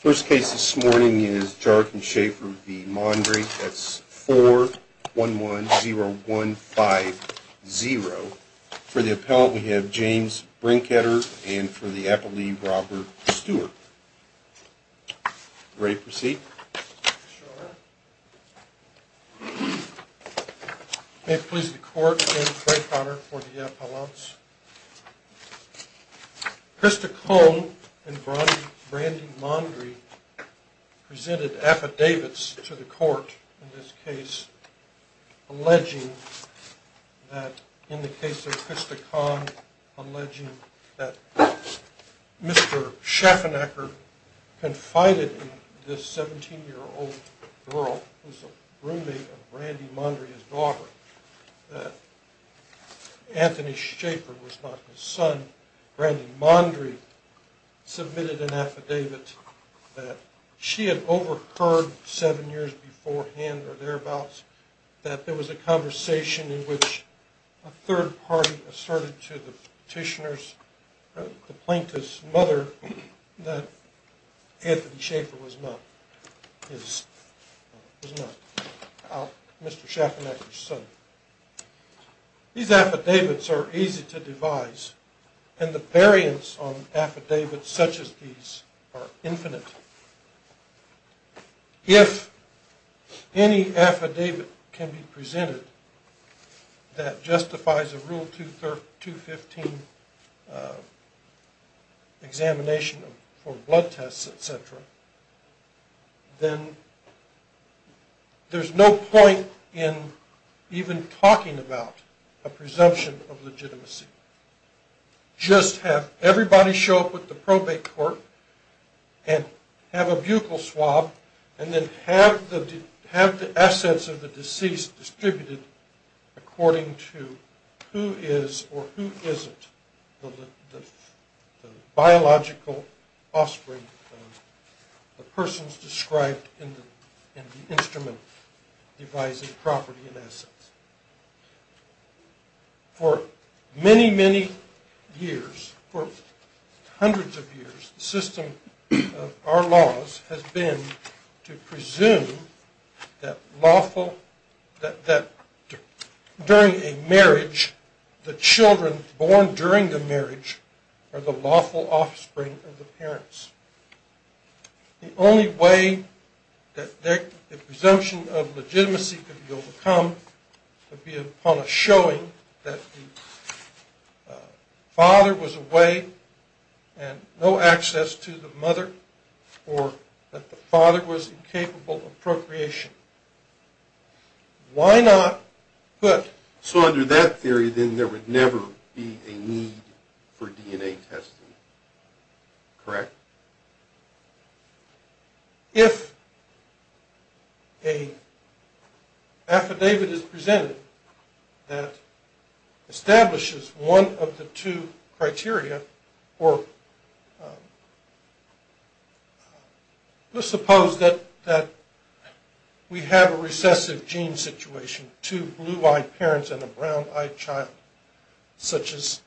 First case this morning is Jarke and Schaefer v. Mondry. That's 4-1-1-0-1-5-0. For the appellant we have James Brinkheder and for the appellee Robert Stewart. Ready to proceed? Sure. May it please the court, James Brinkheder for the appellants. Krista Kohn and Brandy Mondry presented affidavits to the court in this case alleging that, in the case of Krista Kohn, alleging that Mr. Schaffernacker confided in this 17-year-old girl, who's a roommate of Brandy Mondry's daughter, that Anthony Schaefer was not his son. Brandy Mondry submitted an affidavit that she had overcurred seven years beforehand or thereabouts that there was a conversation in which a third party asserted to the petitioner's plaintiff's mother that Anthony Schaefer was not Mr. Schaffernacker's son. These affidavits are easy to devise and the variance on affidavits such as these are infinite. If any affidavit can be presented that justifies a Rule 215 examination for blood tests, etc., then there's no point in even talking about a presumption of legitimacy. Just have everybody show up at the probate court and have a buccal swab and then have the assets of the deceased distributed according to who is or who isn't the biological offspring of the person's described in the affidavit. For many, many years, for hundreds of years, the system of our laws has been to presume that during a marriage, the children born during the marriage are the lawful offspring of the parents. The only way that the presumption of legitimacy could be overcome would be upon a showing that the father was away and no access to the mother or that the father was incapable of procreation. Why not put... If an affidavit is presented that establishes one of the two criteria, or let's suppose that we have a recessive gene situation, two blue-eyed parents and a brown-eyed child, such as...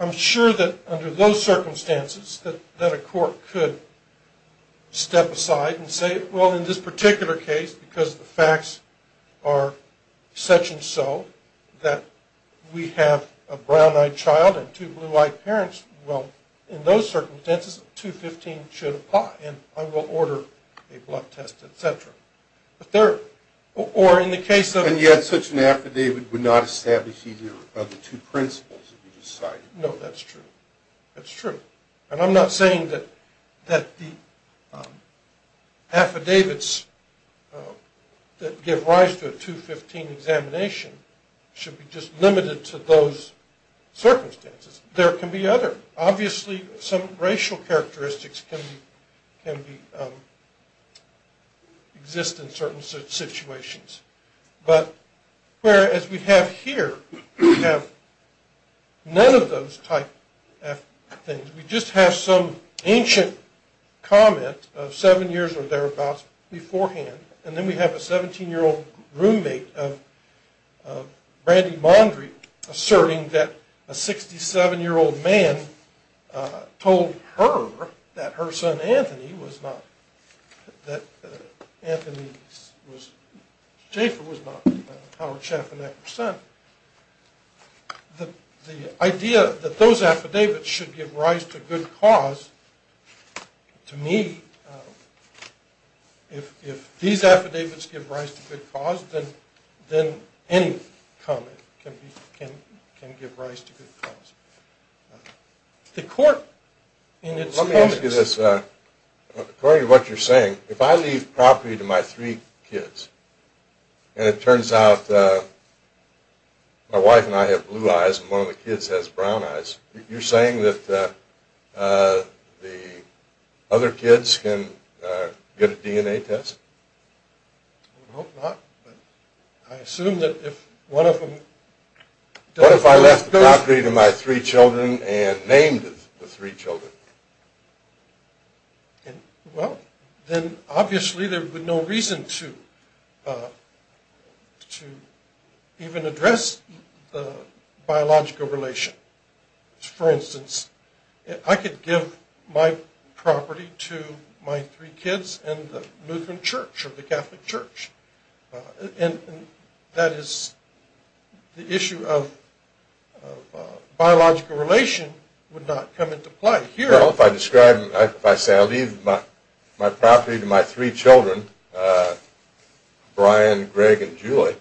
I'm sure that under those circumstances, that a court could step aside and say, well, in this particular case, because the facts are such and so, that we have a brown-eyed child and two blue-eyed parents, well, in those circumstances, 215 should apply and I will order a blood test, etc. Or in the case of... And yet, such an affidavit would not establish either of the two principles that you just cited. No, that's true. That's true. And I'm not saying that the affidavits that give rise to a 215 examination should be just limited to those circumstances. There can be others. Obviously, some racial characteristics can exist in certain situations. But whereas we have here, we have none of those type of things. We just have some ancient comment of seven years or thereabouts beforehand, and then we have a 17-year-old roommate of Brandy Mondry asserting that a 67-year-old man told her that her son Anthony was not... To me, if these affidavits give rise to good cause, then any comment can give rise to good cause. The court, in its comments... According to what you're saying, if I leave property to my three kids and it turns out my wife and I have blue eyes and one of the kids has brown eyes, you're saying that the other kids can get a DNA test? I would hope not, but I assume that if one of them... What if I left the property to my three children and named the three children? Well, then obviously there would be no reason to even address the biological relation. For instance, I could give my property to my three kids and the Lutheran Church or the Catholic Church. That is, the issue of biological relation would not come into play here. If I say, I'll leave my property to my three children, Brian, Greg, and Julie,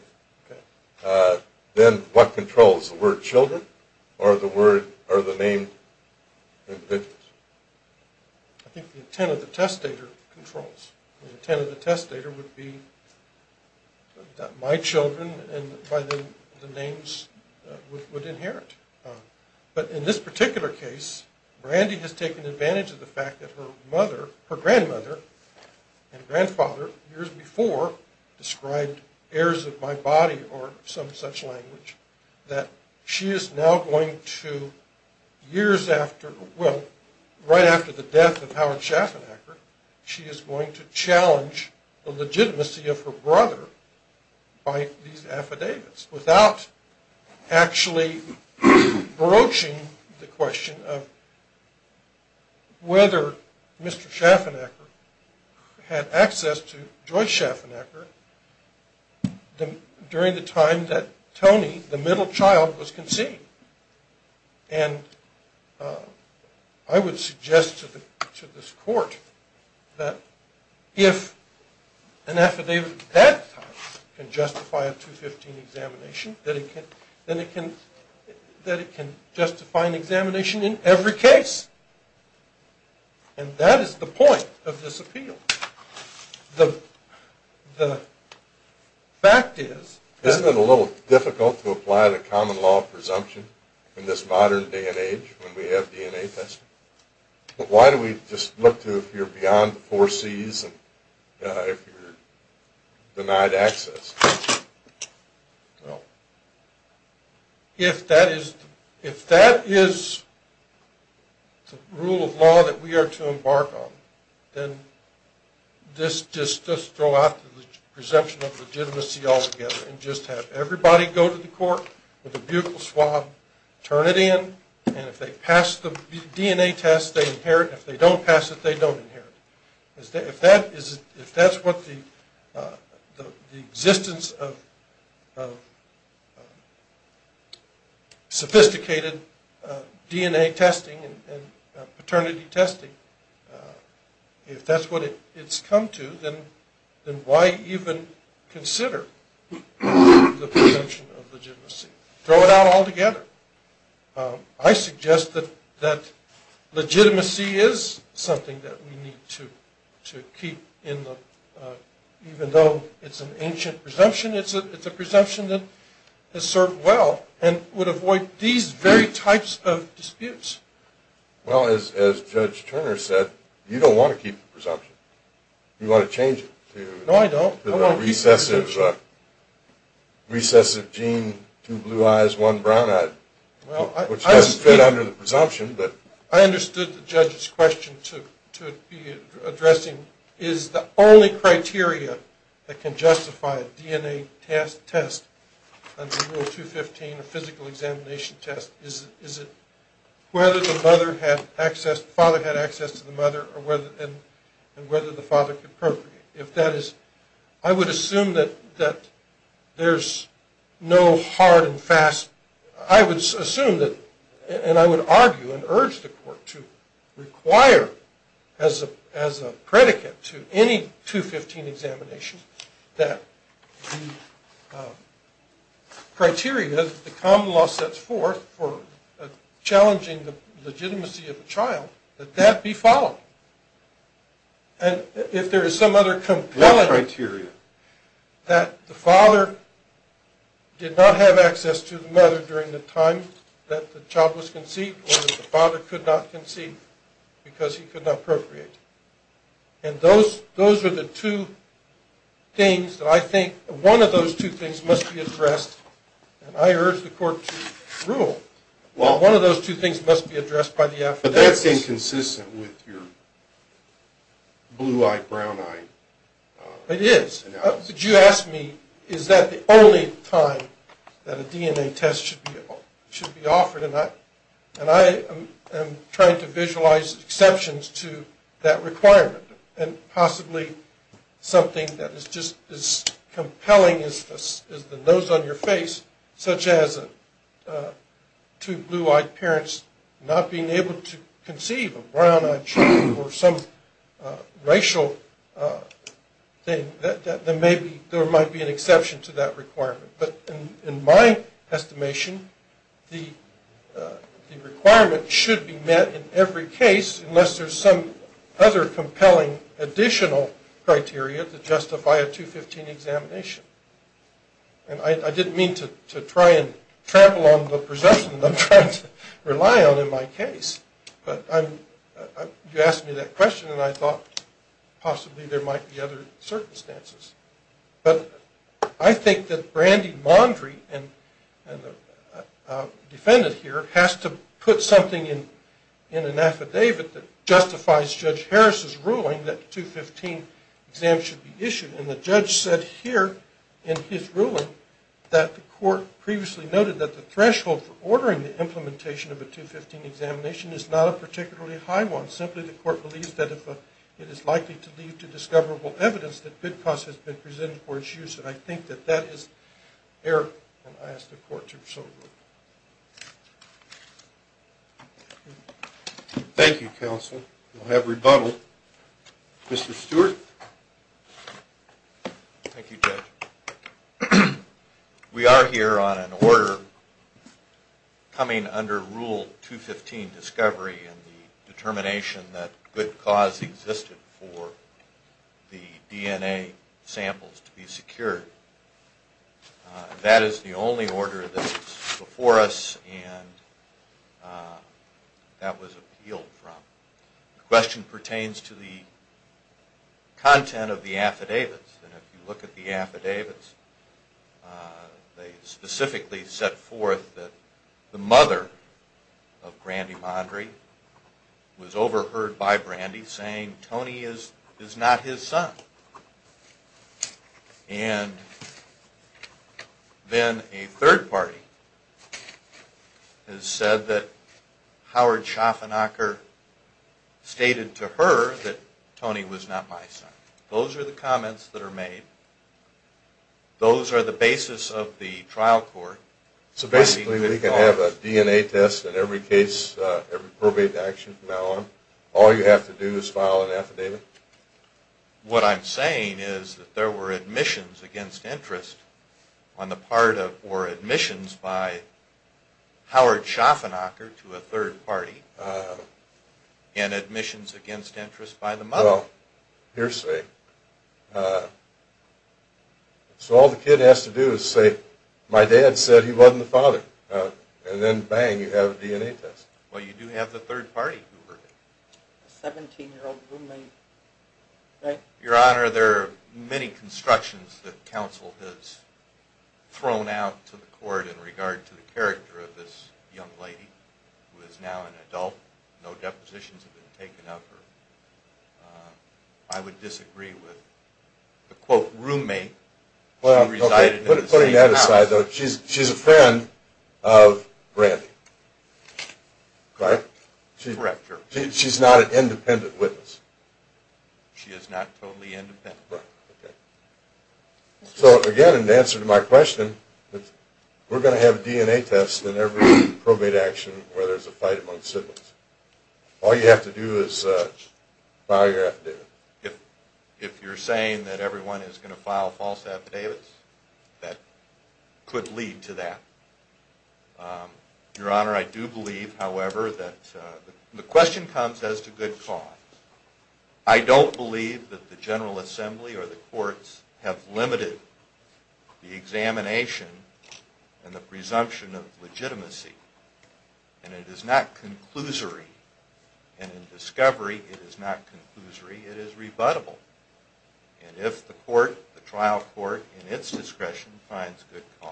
then what controls, the word children or the name? I think the intent of the testator controls. The intent of the testator would be that my children and by the names would inherit. But in this particular case, Brandy has taken advantage of the fact that her grandmother and grandfather, years before, described heirs of my body or some such language. That she is now going to, years after... Well, right after the death of Howard Schaffenacker, she is going to challenge the legitimacy of her brother by these affidavits. Without actually broaching the question of whether Mr. Schaffenacker had access to Joyce Schaffenacker during the time that Tony, the middle child, was conceived. And I would suggest to this court that if an affidavit at that time can justify a 215 examination, then it can justify an examination in every case. And that is the point of this appeal. The fact is... Isn't it a little difficult to apply the common law presumption in this modern day and age when we have DNA testing? But why do we just look to if you're beyond the four C's and if you're denied access? Well, if that is the rule of law that we are to embark on, then just throw out the presumption of legitimacy altogether. And just have everybody go to the court with a butyl swab, turn it in, and if they pass the DNA test, they inherit. If they don't pass it, they don't inherit. If that's what the existence of sophisticated DNA testing and paternity testing... If that's what it's come to, then why even consider the presumption of legitimacy? Throw it out altogether. I suggest that legitimacy is something that we need to keep in the... Even though it's an ancient presumption, it's a presumption that has served well and would avoid these very types of disputes. Well, as Judge Turner said, you don't want to keep the presumption. You want to change it to... No, I don't. Recessive gene, two blue eyes, one brown eye, which doesn't fit under the presumption. I understood the judge's question to be addressing is the only criteria that can justify a DNA test test under Rule 215, a physical examination test, is it whether the father had access to the mother and whether the father could appropriate it. If that is... I would assume that there's no hard and fast... I would assume that... And I would argue and urge the court to require as a predicate to any 215 examination that the criteria that the common law sets forth for challenging the legitimacy of a child, that that be followed. And if there is some other compelling... What criteria? That the father did not have access to the mother during the time that the child was conceived, or that the father could not conceive because he could not appropriate. And those are the two things that I think... One of those two things must be addressed. And I urge the court to rule that one of those two things must be addressed by the affidavits. That's inconsistent with your blue-eyed, brown-eyed... It is. But you ask me, is that the only time that a DNA test should be offered? And I am trying to visualize exceptions to that requirement, and possibly something that is just as compelling as the nose on your face, such as two blue-eyed parents not being able to conceive, a brown-eyed child, or some racial thing. There might be an exception to that requirement. But in my estimation, the requirement should be met in every case, unless there's some other compelling additional criteria to justify a 215 examination. And I didn't mean to try and trample on the presumption that I'm trying to rely on in my case. But you asked me that question, and I thought possibly there might be other circumstances. But I think that Brandy Mondry, the defendant here, has to put something in an affidavit that justifies Judge Harris's ruling that 215 exams should be issued. And the judge said here in his ruling that the court previously noted that the threshold for ordering the implementation of a 215 examination is not a particularly high one. Simply, the court believes that if it is likely to lead to discoverable evidence, that bid cost has been presented for its use. And I think that that is error, and I ask the court to resolve it. Thank you, counsel. We'll have rebuttal. Mr. Stewart? Thank you, Judge. We are here on an order coming under Rule 215, Discovery, and the determination that good cause existed for the DNA samples to be secured. That is the only order that's before us and that was appealed from. The question pertains to the content of the affidavits. And if you look at the affidavits, they specifically set forth that the mother of Brandy Mondry was overheard by Brandy saying, Tony is not his son. And then a third party has said that Howard Schaffernacher stated to her that Tony was not my son. Those are the comments that are made. Those are the basis of the trial court. So basically we can have a DNA test in every case, every probate action from now on? All you have to do is file an affidavit? What I'm saying is that there were admissions against interest on the part of or admissions by Howard Schaffernacher to a third party and admissions against interest by the mother. Well, hearsay. So all the kid has to do is say, my dad said he wasn't the father. And then, bang, you have a DNA test. Well, you do have the third party who heard it. A 17-year-old roommate, right? Your Honor, there are many constructions that counsel has thrown out to the court in regard to the character of this young lady who is now an adult. No depositions have been taken of her. I would disagree with the, quote, roommate who resided in the same house. Putting that aside, though, she's a friend of Brandy, correct? Correct, Your Honor. She's not an independent witness? She is not totally independent. Right, okay. So, again, in answer to my question, we're going to have a DNA test in every probate action where there's a fight among siblings. All you have to do is file your affidavit. If you're saying that everyone is going to file false affidavits, that could lead to that. Your Honor, I do believe, however, that the question comes as to good cause. I don't believe that the General Assembly or the courts have limited the examination and the presumption of legitimacy. And it is not conclusory. And in discovery, it is not conclusory. It is rebuttable. And if the court, the trial court, in its discretion finds good cause,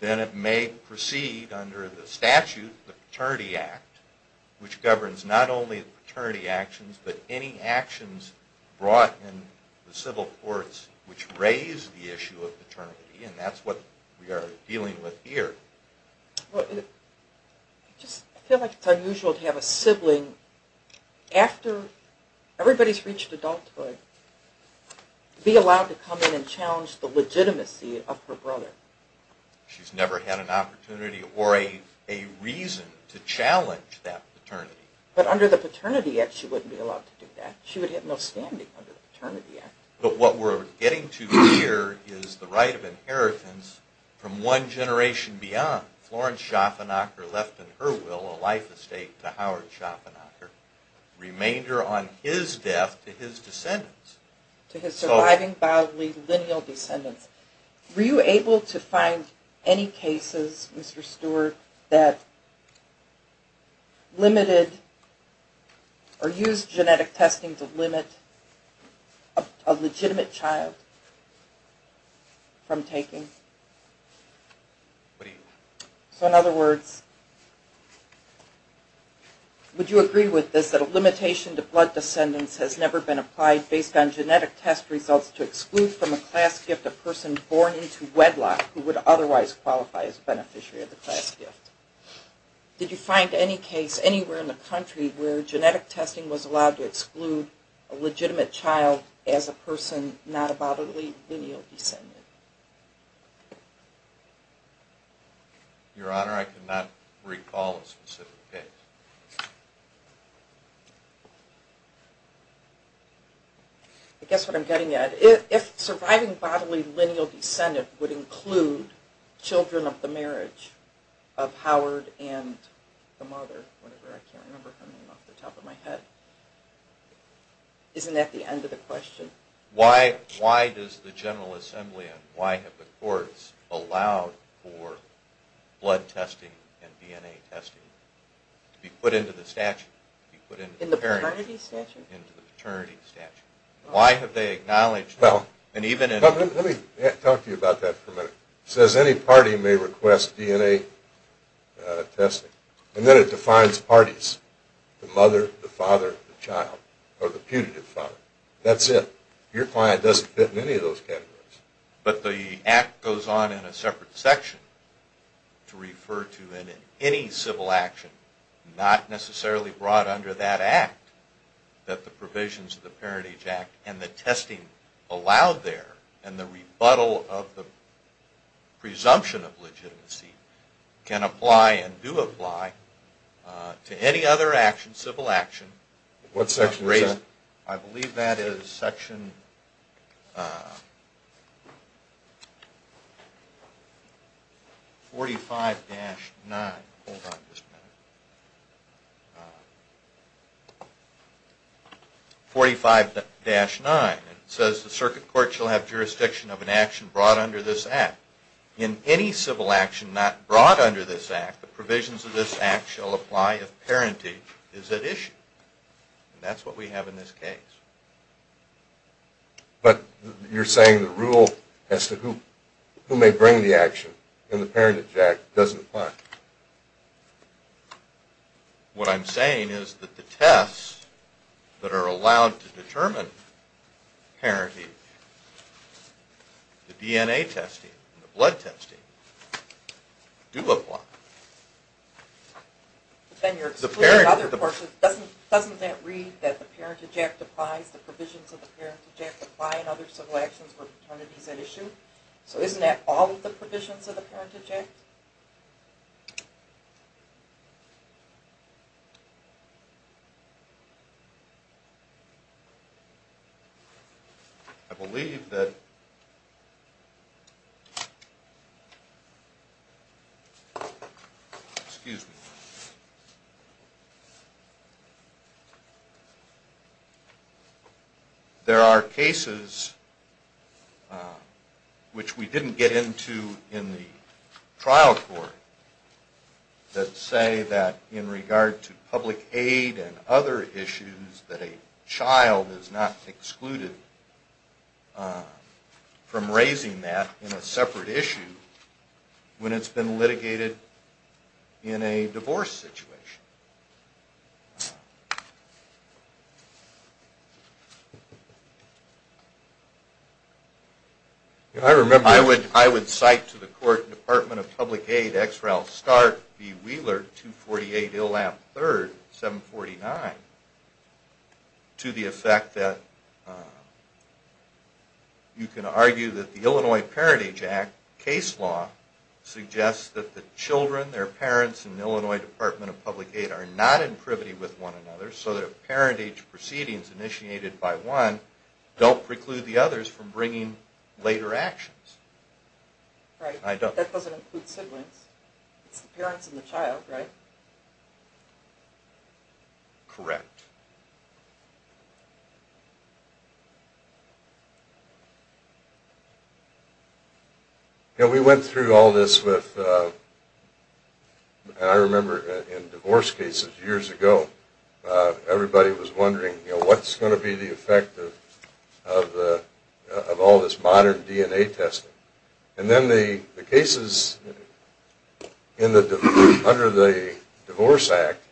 then it may proceed under the statute, the Paternity Act, which governs not only paternity actions, but any actions brought in the civil courts which raise the issue of paternity. And that's what we are dealing with here. I just feel like it's unusual to have a sibling, after everybody's reached adulthood, be allowed to come in and challenge the legitimacy of her brother. She's never had an opportunity or a reason to challenge that paternity. But under the Paternity Act, she wouldn't be allowed to do that. She would have no standing under the Paternity Act. But what we're getting to here is the right of inheritance from one generation beyond. Florence Schaffenacker left in her will a life estate to Howard Schaffenacker, remainder on his death to his descendants. To his surviving bodily lineal descendants. Were you able to find any cases, Mr. Stewart, that limited or used genetic testing to limit a legitimate child from taking? What do you mean? So in other words, would you agree with this, that a limitation to blood descendants has never been applied based on genetic test results to exclude from a class gift a person born into wedlock who would otherwise qualify as a beneficiary of the class gift? Did you find any case anywhere in the country where genetic testing was allowed to exclude a legitimate child as a person not a bodily lineal descendant? Your Honor, I cannot recall a specific case. I guess what I'm getting at, if surviving bodily lineal descendants would include children of the marriage of Howard and the mother, I can't remember coming off the top of my head. Isn't that the end of the question? Why does the General Assembly and why have the courts allowed for blood testing and DNA testing to be put into the statute? In the paternity statute? In the paternity statute. Why have they acknowledged that? Let me talk to you about that for a minute. It says any party may request DNA testing. And then it defines parties. The mother, the father, the child, or the putative father. That's it. Your client doesn't fit in any of those categories. But the Act goes on in a separate section to refer to any civil action not necessarily brought under that Act that the provisions of the Parentage Act and the testing allowed there and the rebuttal of the presumption of legitimacy can apply and do apply to any other civil action. What section is that? I believe that is section 45-9. Hold on just a minute. 45-9. It says the circuit court shall have jurisdiction of an action brought under this Act. In any civil action not brought under this Act, the provisions of this Act shall apply if parentage is at issue. That's what we have in this case. But you're saying the rule as to who may bring the action in the Parentage Act doesn't apply. What I'm saying is that the tests that are allowed to determine parentage, the DNA testing and the blood testing, do apply. But then you're excluding other portions. Doesn't that read that the Parentage Act applies, the provisions of the Parentage Act apply in other civil actions where paternity is at issue? So isn't that all of the provisions of the Parentage Act? I believe that there are cases which we didn't get into in the trial court that say that in regard to public aid and other issues that a child is not excluded from raising that in a separate issue when it's been litigated in a divorce situation. I would cite to the court Department of Public Aid, X. Ralph Stark v. Wheeler, 248 Illamp III, 749, to the effect that you can argue that the Illinois Parentage Act case law suggests that the children, their parents, and Illinois Department of Public Aid are not in privity with one another so that parentage proceedings initiated by one don't preclude the others from bringing later actions. Right, but that doesn't include siblings. It's the parents and the child, right? Correct. We went through all this with, I remember in divorce cases years ago, everybody was wondering what's going to be the effect of all this modern DNA testing. And then the cases under the Divorce Act,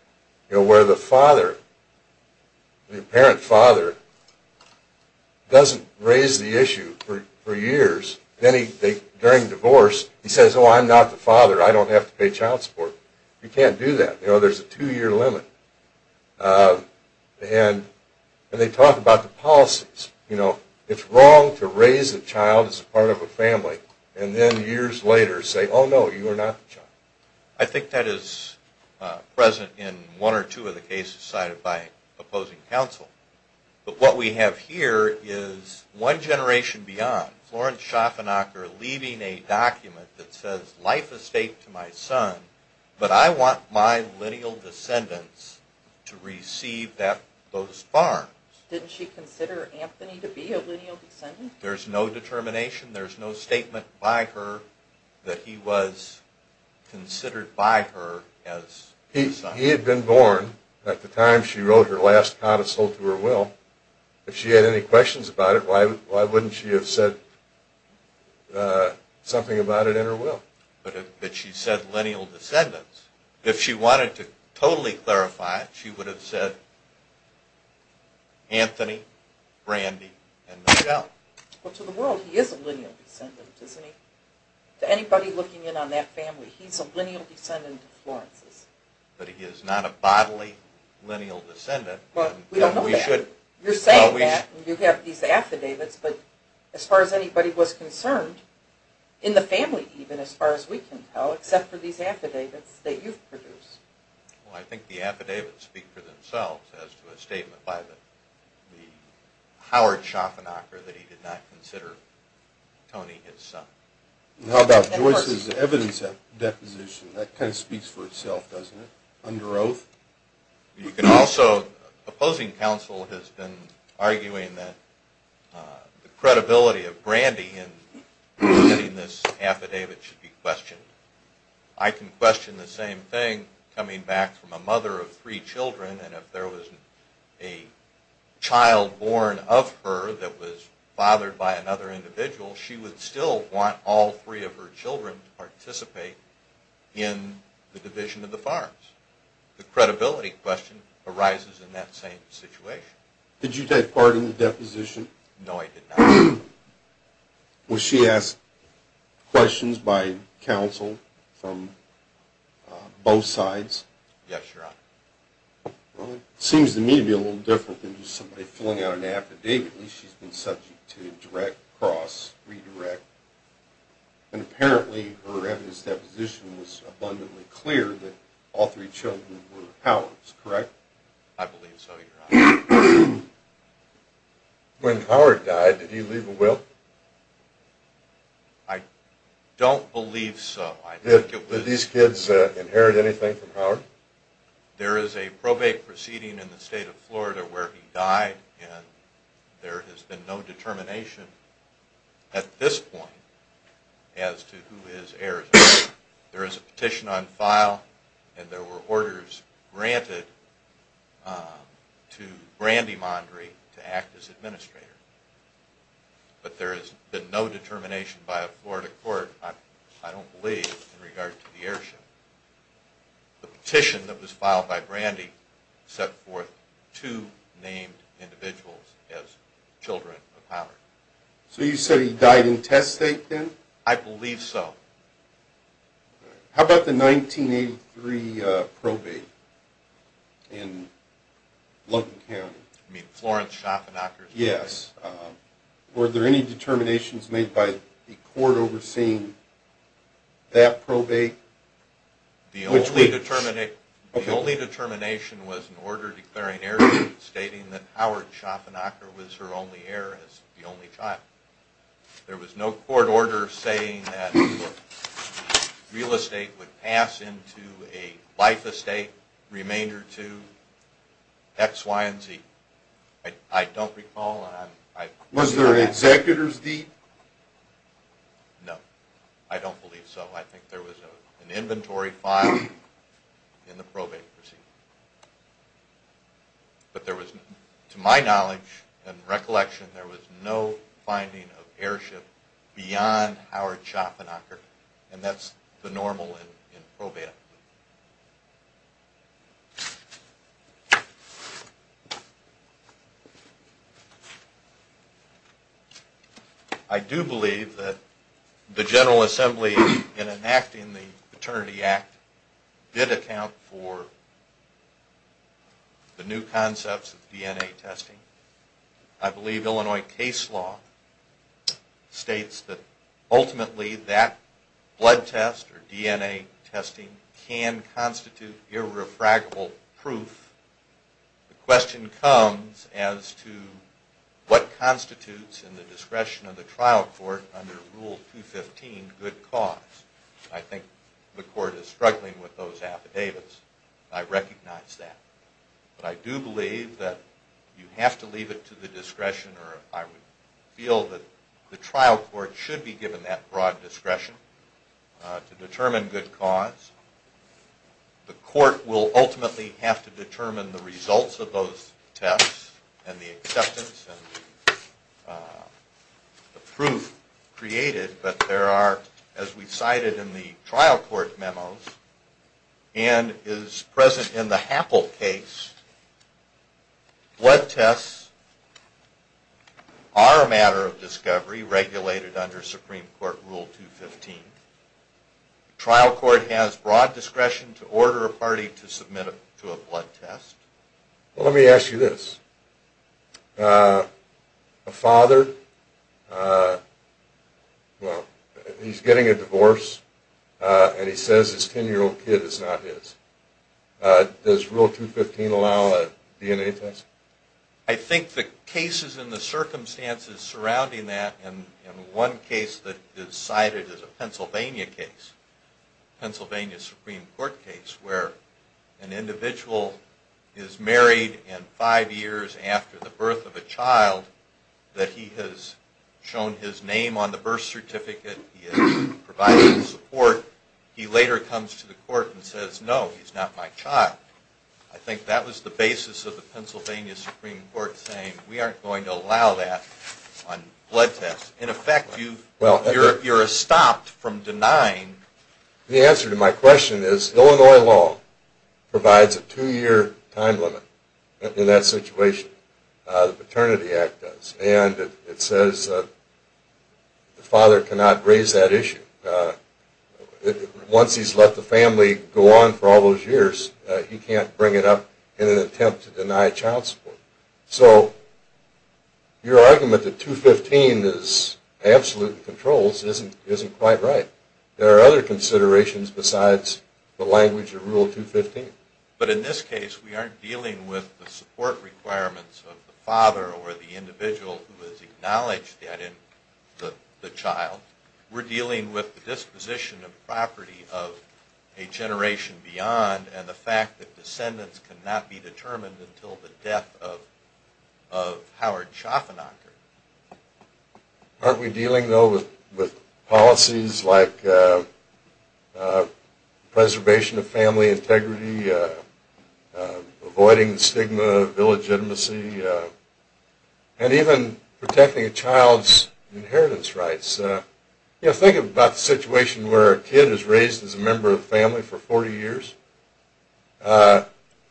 where the father, the apparent father, doesn't raise the issue for years, then during divorce he says, oh, I'm not the father, I don't have to pay child support. You can't do that. There's a two-year limit. And they talk about the policies. You know, it's wrong to raise a child as part of a family and then years later say, oh no, you are not the child. I think that is present in one or two of the cases cited by opposing counsel. But what we have here is one generation beyond. Florence Schaffenacker leaving a document that says, life is staked to my son, but I want my lineal descendants to receive those farms. Didn't she consider Anthony to be a lineal descendant? There's no determination, there's no statement by her that he was considered by her as her son. He had been born at the time she wrote her last codicil to her will. If she had any questions about it, why wouldn't she have said something about it in her will? But she said lineal descendants. If she wanted to totally clarify it, she would have said Anthony, Brandy, and Michelle. Well, to the world, he is a lineal descendant, isn't he? To anybody looking in on that family, he's a lineal descendant of Florence's. But he is not a bodily lineal descendant. We don't know that. You're saying that. You have these affidavits. But as far as anybody was concerned, in the family even, as far as we can tell, except for these affidavits that you've produced. Well, I think the affidavits speak for themselves as to a statement by the Howard Schaffenacher that he did not consider Tony his son. How about Joyce's evidence deposition? That kind of speaks for itself, doesn't it, under oath? You can also, opposing counsel has been arguing that the credibility of Brandy in getting this affidavit should be questioned. I can question the same thing coming back from a mother of three children, and if there was a child born of her that was fathered by another individual, she would still want all three of her children to participate in the division of the farms. The credibility question arises in that same situation. Did you take part in the deposition? No, I did not. Was she asked questions by counsel from both sides? Yes, Your Honor. Well, it seems to me to be a little different than just somebody filling out an affidavit. At least she's been subject to direct, cross, redirect. And apparently her evidence deposition was abundantly clear that all three children were of Howard's, correct? I believe so, Your Honor. When Howard died, did he leave a will? I don't believe so. Did these kids inherit anything from Howard? There is a probate proceeding in the state of Florida where he died, and there has been no determination at this point as to who his heirs are. There is a petition on file, and there were orders granted to Brandy Mondry to act as administrator. But there has been no determination by a Florida court, I don't believe, in regard to the heirship. The petition that was filed by Brandy set forth two named individuals as children of Howard. So you say he died intestate then? I believe so. How about the 1983 probate in Logan County? You mean Florence Schaffenacker's probate? Yes. Were there any determinations made by the court overseeing that probate? The only determination was an order declaring heirship, stating that Howard Schaffenacker was her only heir as the only child. There was no court order saying that real estate would pass into a life estate, remainder to X, Y, and Z. I don't recall. Was there an executor's deed? No, I don't believe so. I think there was an inventory file in the probate proceeding. But there was, to my knowledge and recollection, there was no finding of heirship beyond Howard Schaffenacker, and that's the normal in probate. I do believe that the General Assembly, in enacting the Paternity Act, did account for the new concepts of DNA testing. I believe Illinois case law states that ultimately that blood test or DNA testing can constitute irrefragable proof. The question comes as to what constitutes in the discretion of the trial court under Rule 215 good cause. I think the court is struggling with those affidavits. I recognize that. But I do believe that you have to leave it to the discretion, or I would feel that the trial court should be given that broad discretion to determine good cause. The court will ultimately have to determine the results of those tests and the acceptance and the proof created. But there are, as we cited in the trial court memos, and is present in the Happel case, blood tests are a matter of discovery regulated under Supreme Court Rule 215. The trial court has broad discretion to order a party to submit to a blood test. Well, let me ask you this. A father, well, he's getting a divorce, and he says his 10-year-old kid is not his. Does Rule 215 allow a DNA test? I think the cases and the circumstances surrounding that, and one case that is cited is a Pennsylvania case, a Pennsylvania Supreme Court case, where an individual is married and five years after the birth of a child that he has shown his name on the birth certificate, he has provided support, he later comes to the court and says, no, he's not my child. I think that was the basis of the Pennsylvania Supreme Court saying, we aren't going to allow that on blood tests. In effect, you're stopped from denying. The answer to my question is, Illinois law provides a two-year time limit in that situation. The Paternity Act does. And it says the father cannot raise that issue. Once he's let the family go on for all those years, he can't bring it up in an attempt to deny child support. So your argument that 215 is absolute controls isn't quite right. There are other considerations besides the language of Rule 215. But in this case, we aren't dealing with the support requirements of the father or the individual who has acknowledged that in the child. We're dealing with the disposition of property of a generation beyond and the fact that descendants cannot be determined until the death of Howard Schaffernacher. Aren't we dealing, though, with policies like preservation of family integrity, avoiding the stigma of illegitimacy, and even protecting a child's inheritance rights? Think about the situation where a kid is raised as a member of the family for 40 years.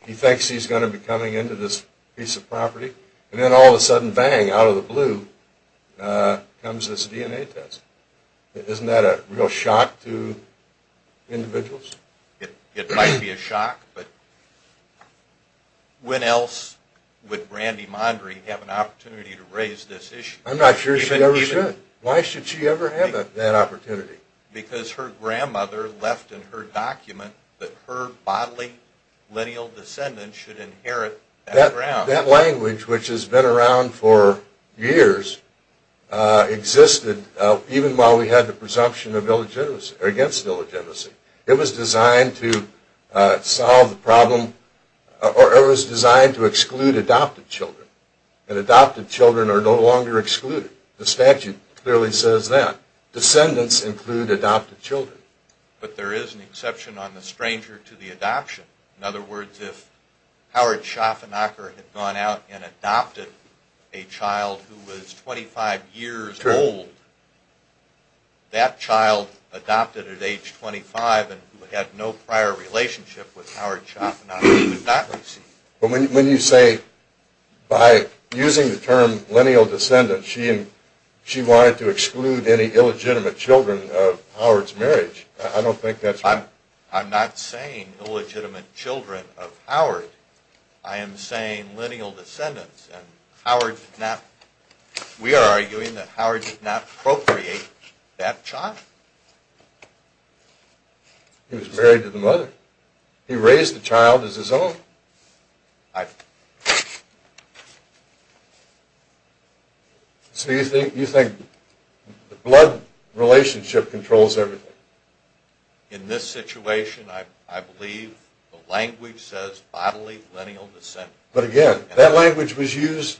He thinks he's going to be coming into this piece of property. And then all of a sudden, bang, out of the blue comes this DNA test. Isn't that a real shock to individuals? It might be a shock, but when else would Brandy Mondry have an opportunity to raise this issue? I'm not sure she ever should. Why should she ever have that opportunity? Because her grandmother left in her document that her bodily lineal descendants should inherit that ground. That language, which has been around for years, existed even while we had the presumption against illegitimacy. It was designed to exclude adopted children, and adopted children are no longer excluded. The statute clearly says that. Descendants include adopted children. But there is an exception on the stranger to the adoption. In other words, if Howard Schaffernacher had gone out and adopted a child who was 25 years old, that child adopted at age 25 and who had no prior relationship with Howard Schaffernacher would not be seen. But when you say, by using the term lineal descendants, she wanted to exclude any illegitimate children of Howard's marriage, I don't think that's right. I'm not saying illegitimate children of Howard. I am saying lineal descendants, and we are arguing that Howard did not procreate that child. He was married to the mother. He raised the child as his own. So you think the blood relationship controls everything? In this situation, I believe the language says bodily lineal descendants. But again, that language was used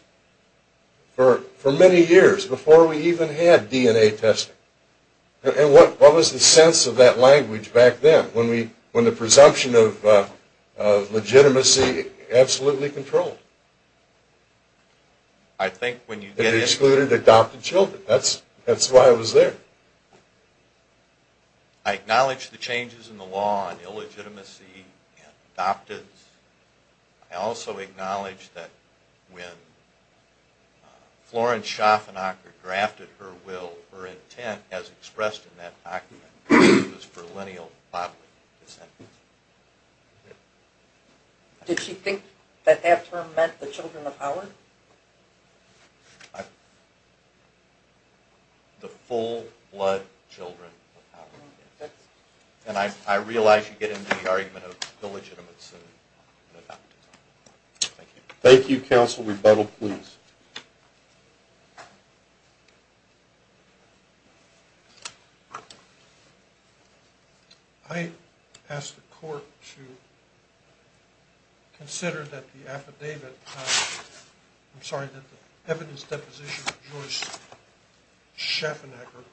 for many years, before we even had DNA testing. And what was the sense of that language back then, when the presumption of legitimacy absolutely controlled? I think when you get in... It excluded adopted children. That's why it was there. I acknowledge the changes in the law on illegitimacy and adoptives. I also acknowledge that when Florence Schaffernacher grafted her will, her intent, as expressed in that document, was for lineal bodily descendants. Did she think that that term meant the children of Howard? I... The full-blood children of Howard. And I realize you get into the argument of illegitimacy and adoptives. Thank you. Thank you, counsel. Rebuttal, please. I ask the court to consider that the affidavit I'm sorry, that the evidence deposition of Joyce Schaffernacher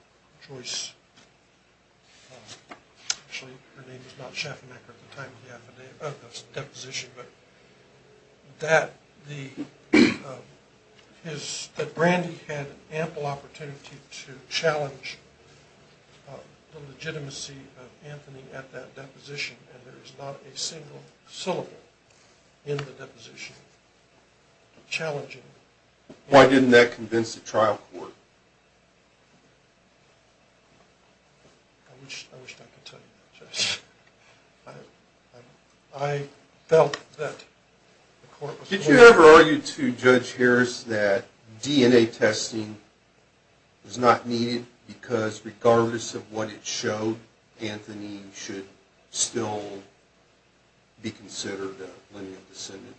Joyce... Actually, her name was not Schaffernacher at the time of the affidavit of the deposition, but that the... that Brandy had ample opportunity to challenge the legitimacy of Anthony at that deposition, and there is not a single syllable in the deposition challenging... Why didn't that convince the trial court? I wish I could tell you that, Judge. I felt that the court was... Did you ever argue to Judge Harris that DNA testing was not needed because, regardless of what it showed, Anthony should still be considered a lineal descendant?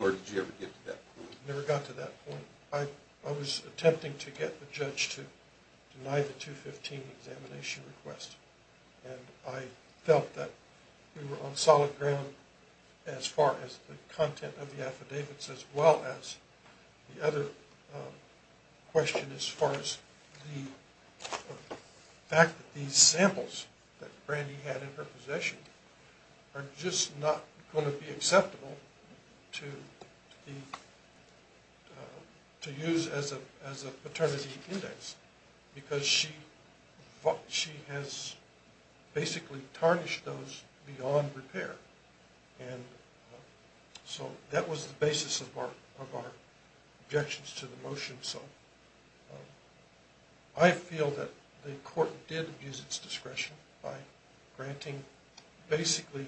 Or did you ever get to that point? Never got to that point. I was attempting to get the judge to deny the 215 examination request, and I felt that we were on solid ground as far as the content of the affidavits as well as the other question as far as the fact that these samples that Brandy had in her possession are just not going to be acceptable to use as a paternity index because she has basically tarnished those beyond repair. And so that was the basis of our objections to the motion. I feel that the court did use its discretion by basically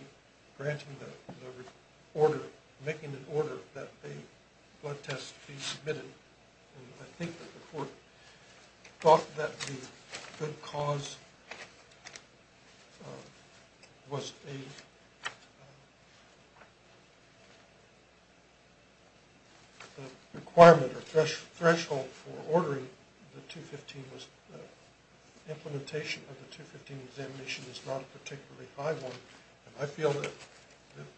granting the order, making the order that the blood tests be submitted, and I think that the court thought that the good cause was a requirement or threshold for ordering the 215. The implementation of the 215 examination is not a particularly high one, and I feel that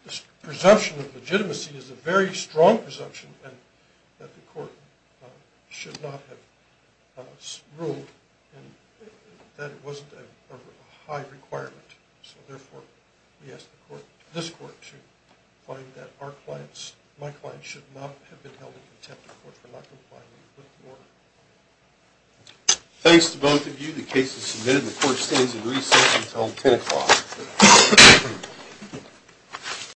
this presumption of legitimacy is a very strong presumption and that the court should not have ruled that it wasn't a high requirement. So therefore, we ask this court to find that our clients, my clients should not have been held in contempt of court for not complying with the order. Thanks to both of you. The case is submitted. The court stands in recess until 10 o'clock.